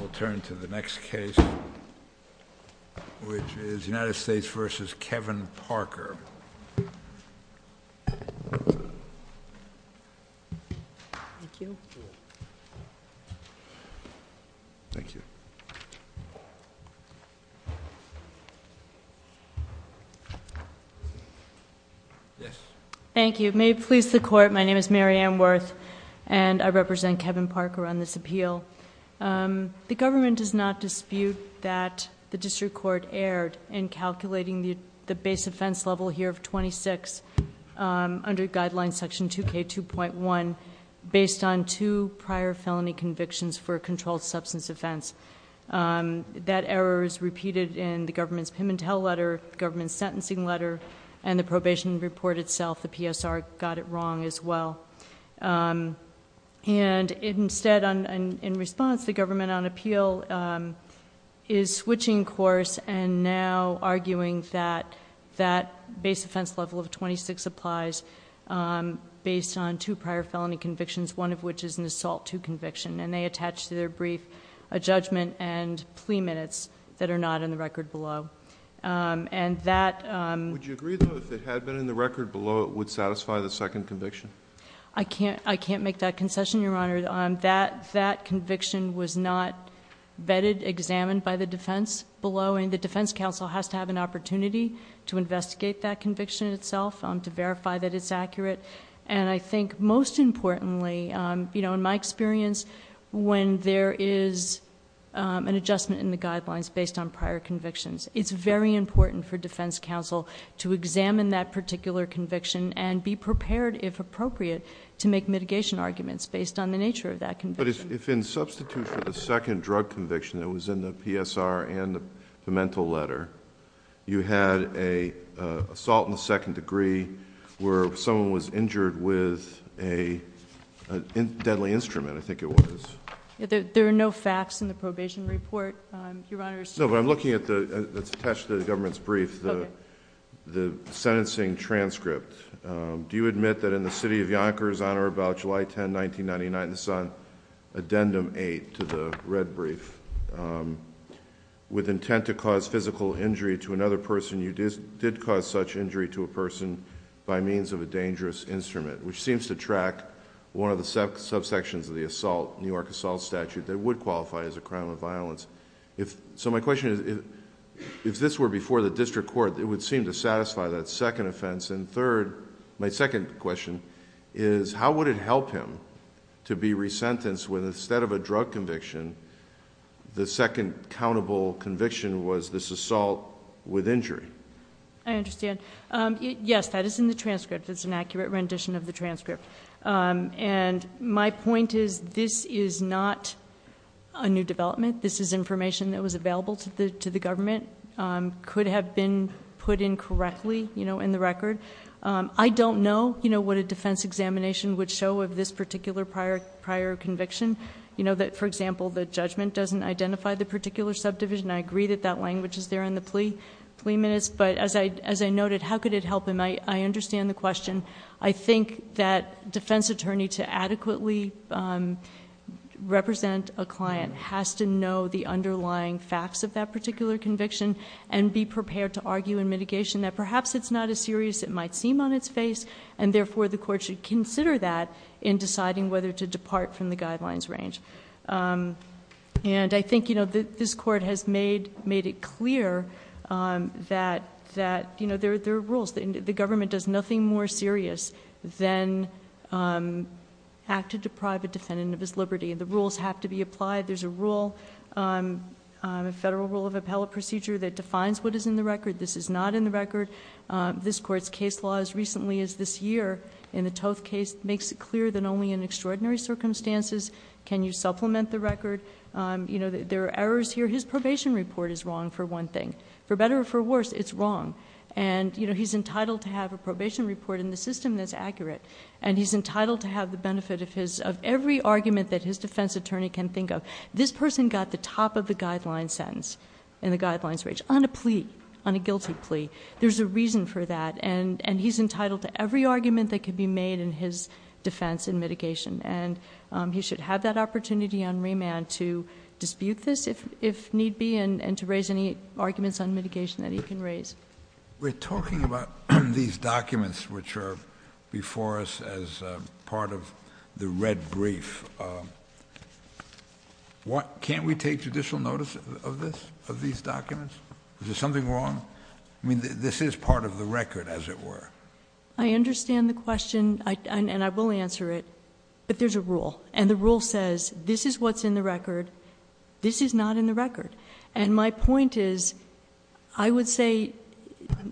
We'll turn to the next case, which is United States v. Kevin Parker. Thank you. May it please the Court, my name is Mary Ann Wirth, and I represent Kevin Parker on this appeal. The government does not dispute that the District Court erred in calculating the base offense level here of 26 under Guideline Section 2K2.1 based on two prior felony convictions for a controlled substance offense. That error is repeated in the government's Pim & Tell letter, the government's sentencing letter, and the probation report itself. The PSR got it wrong as well. And instead, in response, the government on appeal is switching course and now arguing that that base offense level of 26 applies based on two prior felony convictions, one of which is an assault to conviction, and they attach to their brief a judgment and plea minutes that are not in the record below. Would you agree, though, that if it had been in the record below, it would satisfy the second conviction? I can't make that concession, Your Honor. That conviction was not vetted, examined by the defense below, and the defense counsel has to have an opportunity to investigate that conviction itself, to verify that it's accurate. And I think, most importantly, in my experience, when there is an adjustment in the guidelines based on prior convictions, it's very important for defense counsel to examine that particular conviction and be prepared, if appropriate, to make mitigation arguments based on the nature of that conviction. But if, in substitution, the second drug conviction that was in the PSR and the Pim & Tell letter, you had an assault in the second degree where someone was injured with a deadly incident and you had to make a plea, would you agree that that was an instrument? I think it was. There are no facts in the probation report, Your Honor. No, but I'm looking at the... it's attached to the government's brief, the sentencing transcript. Do you admit that in the city of Yonkers, on or about July 10, 1999, this is on Addendum 8 to the red brief, with intent to cause physical injury to another person, you did cause such injury to a person by means of a dangerous instrument, which seems to backtrack one of the subsections of the New York assault statute that would qualify as a crime of violence. My question is, if this were before the district court, it would seem to satisfy that second offense. My second question is, how would it help him to be re-sentenced when instead of a drug conviction, the second countable conviction was this assault with injury? I understand. Yes, that is in the transcript. It's an accurate rendition of the transcript. My point is, this is not a new development. This is information that was available to the government, could have been put in correctly in the record. I don't know what a defense examination would show of this particular prior conviction. For example, the judgment doesn't identify the particular subdivision. I agree that that language is there in the 20 minutes, but as I noted, how could it help him? I understand the question. I think that defense attorney, to adequately represent a client, has to know the underlying facts of that particular conviction and be prepared to argue in mitigation that perhaps it's not as serious as it might seem on its face. Therefore, the court should consider that in deciding whether to depart from the guidelines range. I think this court has made it clear that there are rules. The government does nothing more serious than act to deprive a defendant of his liberty. The rules have to be applied. There's a federal rule of appellate procedure that defines what is in the record. This is not in the record. This Court's case law, as recently as this year, in the Toth case, makes it clear that only in extraordinary circumstances can you supplement the record. There are errors here. His probation report is wrong for one thing. For better or for worse, it's wrong. He's entitled to have a probation report in the system that's accurate. He's entitled to have the benefit of every argument that his defense attorney can think of. This person got the top of the guideline sentence in the guidelines range on a plea, on a guilty plea. There's a reason for that. He's entitled to every argument that can be made in his defense in mitigation. He should have that opportunity on remand to dispute this if need be and to raise any arguments on mitigation that he can raise. We're talking about these documents which are before us as part of the red brief. Can we take judicial notice of this, of these documents? Is there something wrong? I mean, this is part of the record, as it were. I understand the question, and I will answer it, but there's a rule. The rule says this is what's in the record. This is not in the record. My point is, I would say,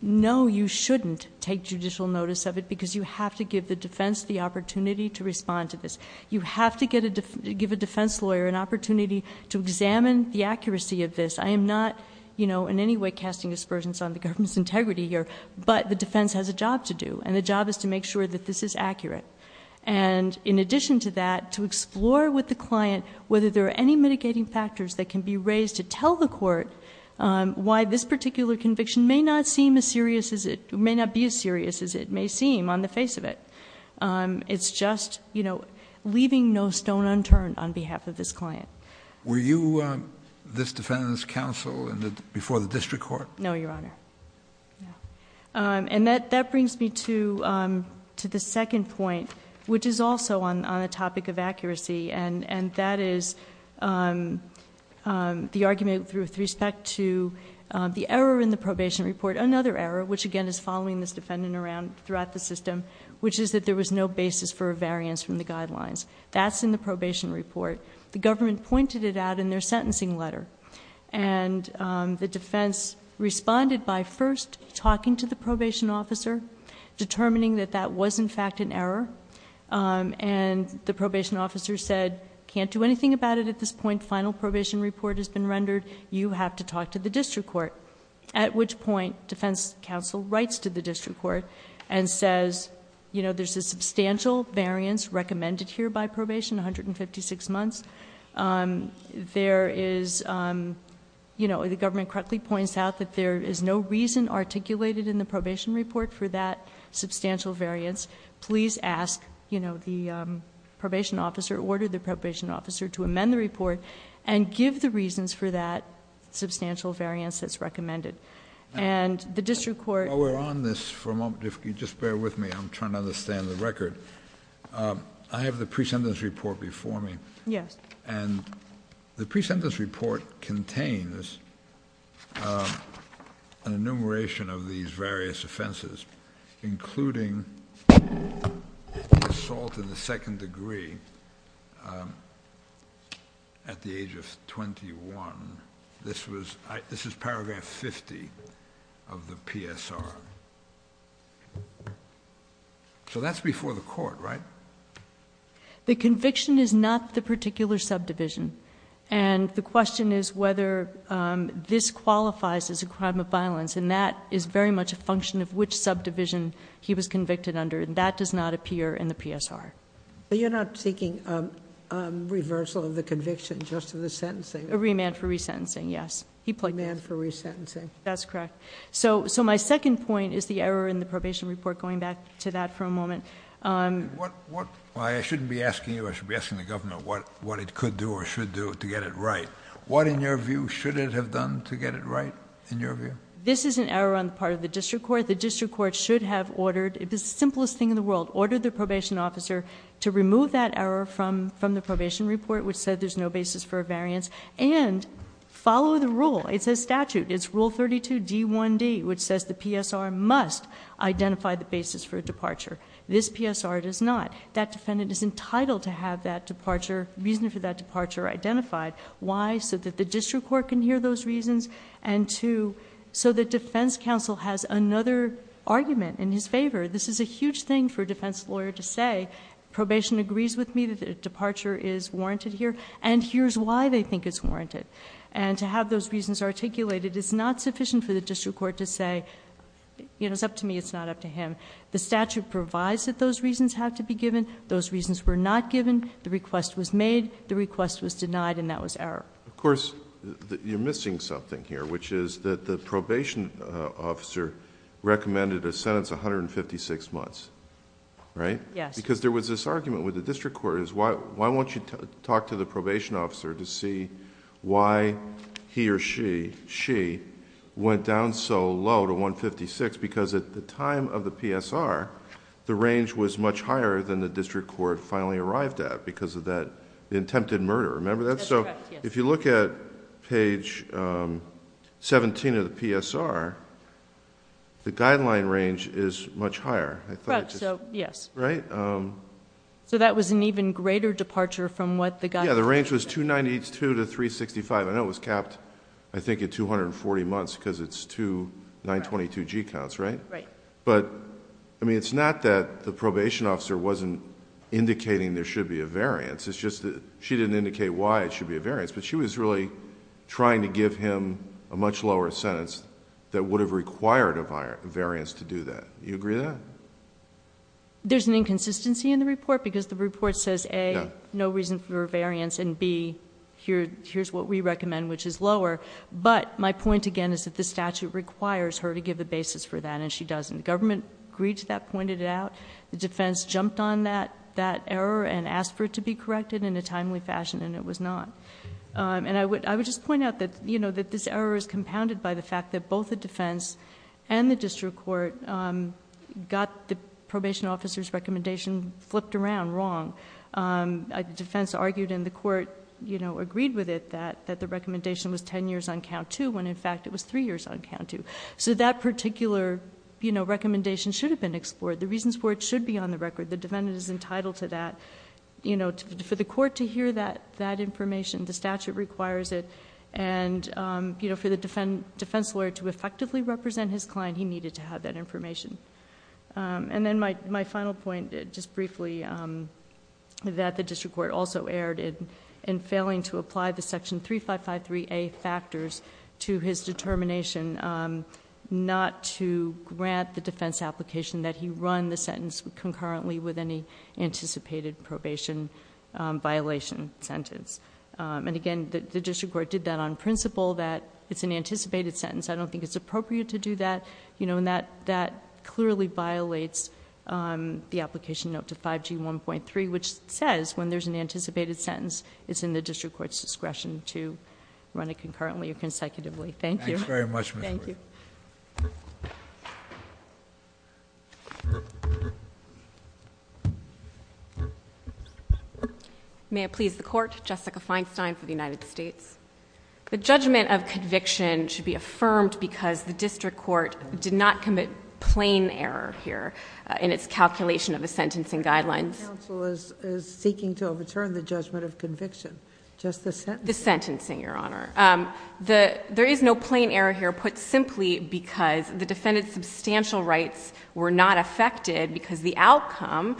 no, you shouldn't take judicial notice of it because you have to give the defense the opportunity to respond to this. You have to give a defense lawyer an opportunity to examine the accuracy of this. I am not in any way casting aspersions on the government's integrity here, but the job to do, and the job is to make sure that this is accurate. In addition to that, to explore with the client whether there are any mitigating factors that can be raised to tell the court why this particular conviction may not be as serious as it may seem on the face of it. It's just leaving no stone unturned on behalf of this client. Were you this defendant's counsel before the district court? No, Your Honor. That brings me to the second point, which is also on the topic of accuracy, and that is the argument with respect to the error in the probation report. Another error, which again is following this defendant throughout the system, which is that there was no basis for a variance from the guidelines. That's in the probation report. The government pointed it out in their sentencing letter. The defense responded by first talking to the probation officer, determining that that was in fact an error. The probation officer said, can't do anything about it at this point. Final probation report has been rendered. You have to talk to the district court, at which point defense counsel writes to the district court and says, there's a substantial variance recommended here by probation, 156 months. The government correctly points out that there is no reason articulated in the probation report for that substantial variance. Please ask the probation officer, order the probation officer to amend the report and give the reasons for that substantial variance that's recommended. And the district court- While we're on this for a moment, if you'll just bear with me, I'm trying to understand the record. I have the pre-sentence report before me, and the pre-sentence report contains an enumeration of these various offenses, including assault in the second degree at the age of 21. This is paragraph 50 of the PSR. So that's before the court, right? The conviction is not the particular subdivision, and the question is whether this qualifies as a crime of violence, and that is very much a function of which subdivision he was convicted under, and that does not appear in the PSR. But you're not seeking a reversal of the conviction just for the sentencing? A remand for re-sentencing, yes. Remand for re-sentencing. That's correct. So my second point is the error in the probation report, going back to that for a moment. I shouldn't be asking you, I should be asking the governor what it could do or should do to get it right. What, in your view, should it have done to get it right, in your view? This is an error on the part of the district court. The district court should have ordered the simplest thing in the world, ordered the probation officer to remove that error from the probation report, which said there's no basis for a variance, and follow the rule. It says statute. It's Rule 32D1D, which says the PSR must identify the basis for a departure. This PSR does not. That defendant is entitled to have that departure, reason for that departure identified. Why? So that the district court can hear those reasons, and so that defense counsel has another argument in his favor. This is a huge thing for a defense lawyer to say, probation agrees with me that a departure is warranted here, and here's why they think it's warranted. And to have those reasons articulated is not sufficient for the district court to say, you know, it's up to me, it's not up to him. The statute provides that those reasons have to be given. Those reasons were not given. The request was made. The request was denied, and that was error. Of course, you're missing something here, which is that the probation officer recommended a sentence of 156 months, right? Yes. Because there was this argument with the district court, is why won't you talk to the probation officer to see why he or she, she, went down so low to 156, because at the time of the PSR, the range was much higher than the district court finally arrived at because of that, the attempted murder, remember that? That's correct, yes. So if you look at page 17 of the PSR, the guideline range is much higher, I thought it just... Correct, so, yes. Right? So that was an even greater departure from what the... Yeah, the range was 292 to 365. I know it was capped, I think, at 240 months, because it's two 922G counts, right? Right. But, I mean, it's not that the probation officer wasn't indicating there should be a variance, it's just that she didn't indicate why it should be a variance, but she was really trying to give him a much lower sentence that would have required a variance to do that. You agree with that? There's an inconsistency in the report, because the report says, A, no reason for a variance, and B, here's what we recommend, which is lower, but my point, again, is that the statute requires her to give a basis for that, and she doesn't. The government agreed to that, pointed it out. The defense jumped on that error and asked for it to be corrected in a timely fashion, and it was not. And I would just point out that, you know, that this error is compounded by the fact that both the defense and the district court got the probation officer's recommendation flipped around wrong. The defense argued, and the court, you know, agreed with it that the recommendation was ten years on count two, when, in fact, it was three years on count two. So that particular, you know, recommendation should have been explored. The reasons for it should be on the record. The defendant is entitled to that. You know, for the court to hear that information, the statute requires it, and, you know, for the defense lawyer to effectively represent his client, he needed to have that information. And then my final point, just briefly, that the district court also erred in failing to apply the 3553A factors to his determination not to grant the defense application that he run the sentence concurrently with any anticipated probation violation sentence. And again, the district court did that on principle, that it's an anticipated sentence. I don't think it's appropriate to do that. You know, and that clearly violates the application note to 5G1.3, which says when there's an anticipated sentence, it's in the district court's discretion to run it concurrently or consecutively. Thank you. Thank you very much, Ms. Worth. May it please the Court, Jessica Feinstein for the United States. The judgment of conviction should be affirmed because the district court did not commit plain error here in its calculation of the sentencing guidelines. The counsel is seeking to overturn the judgment of conviction. Just the sentencing. The sentencing, Your Honor. There is no plain error here put simply because the defendant's substantial rights were not affected because the outcome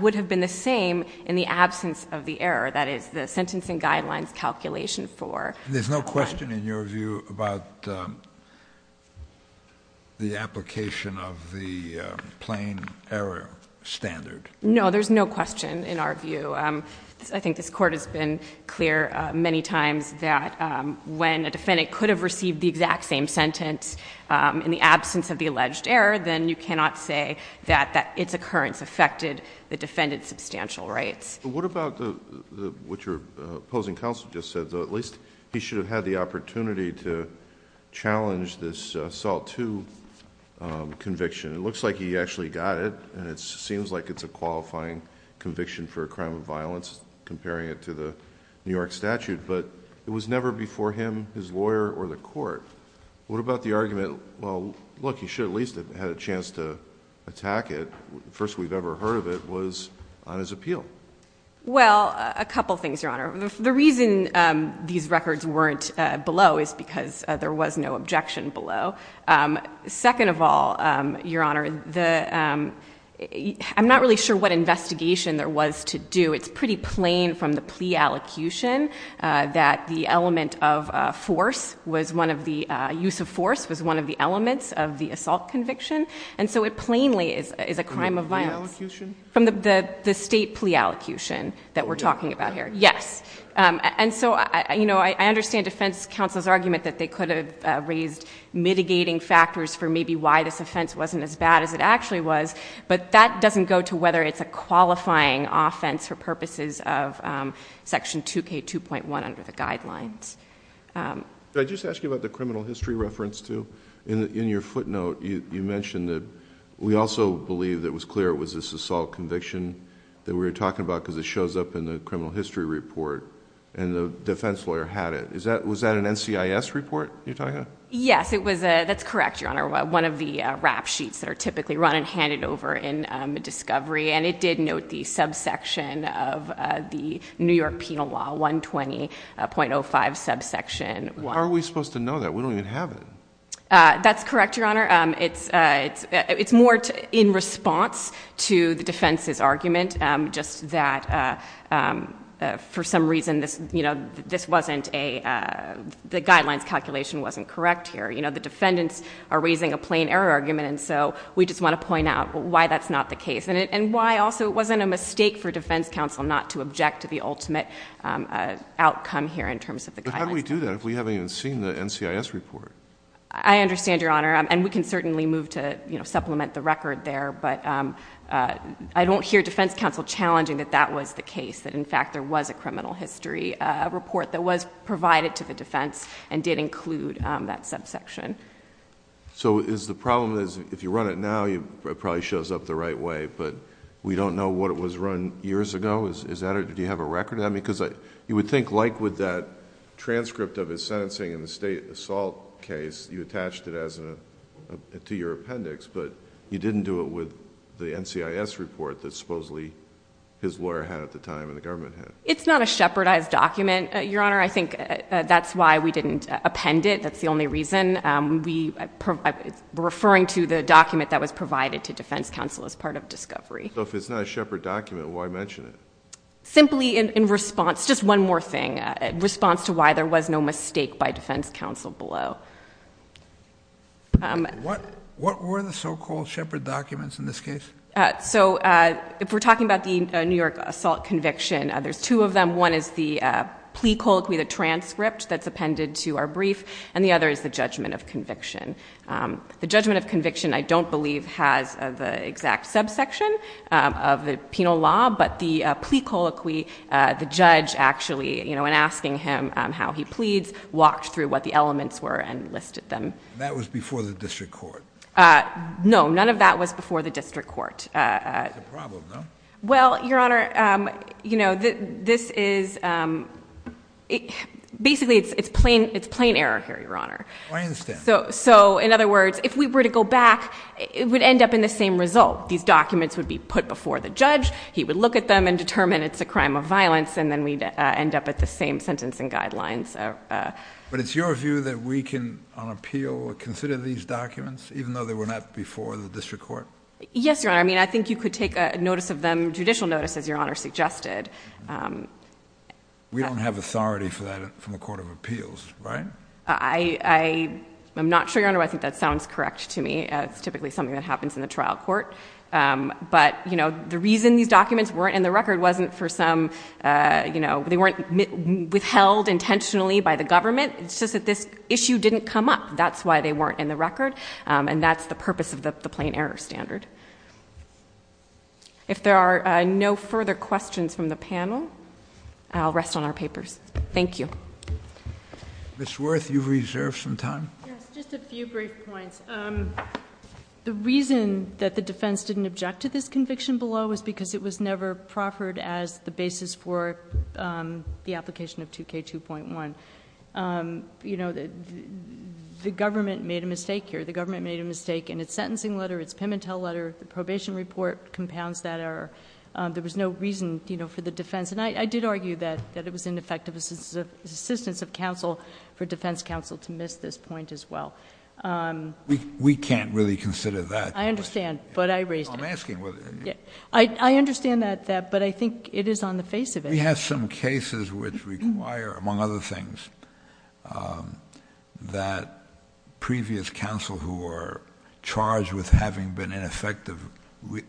would have been the same in the absence of the error, that is, the sentencing guidelines calculation for. There's no question in your view about the application of the plain error standard? No, there's no question in our view. I think this court has been clear many times that when a defendant could have received the exact same sentence in the absence of the alleged error, then you cannot say that its occurrence affected the defendant's substantial rights. What about what your opposing counsel just said, though? At least he should have had the opportunity to challenge this SALT II conviction. It looks like he actually got it, and it seems like it's a qualifying conviction for a crime of violence, comparing it to the New York statute, but it was never before him, his lawyer, or the court. What about the argument, well, look, he should at least have had a chance to attack it. The first we've ever heard of it was on his appeal? Well, a couple things, Your Honor. The reason these records weren't below is because there was no objection below. Second of all, Your Honor, I'm not really sure what investigation there was to do. It's pretty plain from the plea allocution that the use of force was one of the elements of the assault conviction, and so it plainly is a crime of violence. From the plea allocation? From the state plea allocation that we're talking about here, yes. I understand defense counsel's argument that they could have raised mitigating factors for maybe why this offense wasn't as bad as it actually was, but that doesn't go to whether it's a qualifying offense for purposes of Section 2K2.1 under the guidelines. Did I just ask you about the criminal history reference, too? In your footnote, you mentioned that we also believe that it was clear it was this assault conviction that we were talking about, because it shows up in the criminal history report, and the defense lawyer had it. Was that an NCIS report you're talking about? Yes, it was. That's correct, Your Honor. One of the rap sheets that are typically run and handed over in discovery, and it did note the subsection of the New York Penal Law 120.05 subsection. How are we supposed to know that? We don't even have it. That's correct, Your Honor. It's more in response to the defense's argument, just that for some defendants are raising a plain error argument, and so we just want to point out why that's not the case, and why also it wasn't a mistake for defense counsel not to object to the ultimate outcome here in terms of the guidelines. But how do we do that if we haven't even seen the NCIS report? I understand, Your Honor, and we can certainly move to supplement the record there, but I don't hear defense counsel challenging that that was the case, that in fact there was a criminal history report that was provided to the defense and did include that subsection. So is the problem is if you run it now, it probably shows up the right way, but we don't know what it was run years ago? Do you have a record of that? Because you would think like with that transcript of his sentencing in the state assault case, you attached it to your appendix, but you didn't do it with the NCIS report that supposedly his lawyer had at the time and the government had. It's not a shepherdized document, Your Honor, that's the only reason. We're referring to the document that was provided to defense counsel as part of discovery. So if it's not a shepherd document, why mention it? Simply in response, just one more thing, in response to why there was no mistake by defense counsel below. What were the so-called shepherd documents in this case? So if we're talking about the New York assault conviction, there's two of them. One is the plea colloquy, the transcript that's appended to our brief, and the other is the judgment of conviction. The judgment of conviction, I don't believe, has the exact subsection of the penal law, but the plea colloquy, the judge actually, you know, in asking him how he pleads, walked through what the elements were and listed them. That was before the district court? No, none of that was before the district court. That's a problem, though. Well, Your Honor, you know, this is basically, it's plain error here, Your Honor. I understand. So, in other words, if we were to go back, it would end up in the same result. These documents would be put before the judge, he would look at them and determine it's a crime of violence, and then we'd end up at the same sentencing guidelines. But it's your view that we can, on appeal, consider these documents even though they were not before the district court? Yes, Your Honor. I mean, I think you could take a notice of them, judicial notice, as Your Honor suggested. We don't have authority for that from a court of appeals, right? I'm not sure, Your Honor, I think that sounds correct to me. It's typically something that happens in a trial court. But, you know, the reason these documents weren't in the record wasn't for some, you know, they weren't withheld intentionally by the government. It's just that this issue didn't come up. That's why they weren't in the record. And that's the purpose of the plain error standard. If there are no further questions from the panel, I'll rest on our papers. Thank you. Ms. Wirth, you've reserved some time. Yes, just a few brief points. The reason that the defense didn't object to this conviction below was because it was never proffered as the basis for the application of 2K2.1. You know, the government made a mistake here. The government made a mistake in its sentencing letter, its Pimentel letter, the probation report compounds that error. There was no reason, you know, for the defense. And I did argue that it was ineffective assistance of counsel for defense counsel to miss this point as well. We can't really consider that. I understand, but I raised it. I'm asking whether... I understand that, but I think it is on the face of it. We have some cases which require, among other things, that previous counsel who are charged with having been ineffective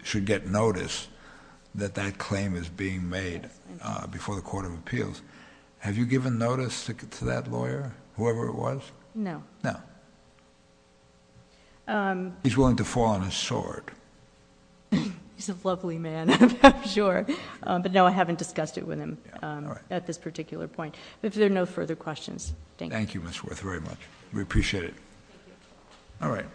should get notice that that claim is being made before the Court of Appeals. Have you given notice to that lawyer, whoever it was? No. No. He's willing to fall on his sword. He's a lovely man. I'm sure. But no, I haven't discussed it with him at this particular point. If there are no further questions, thank you. Thank you, Ms. Worth, very much. We appreciate it.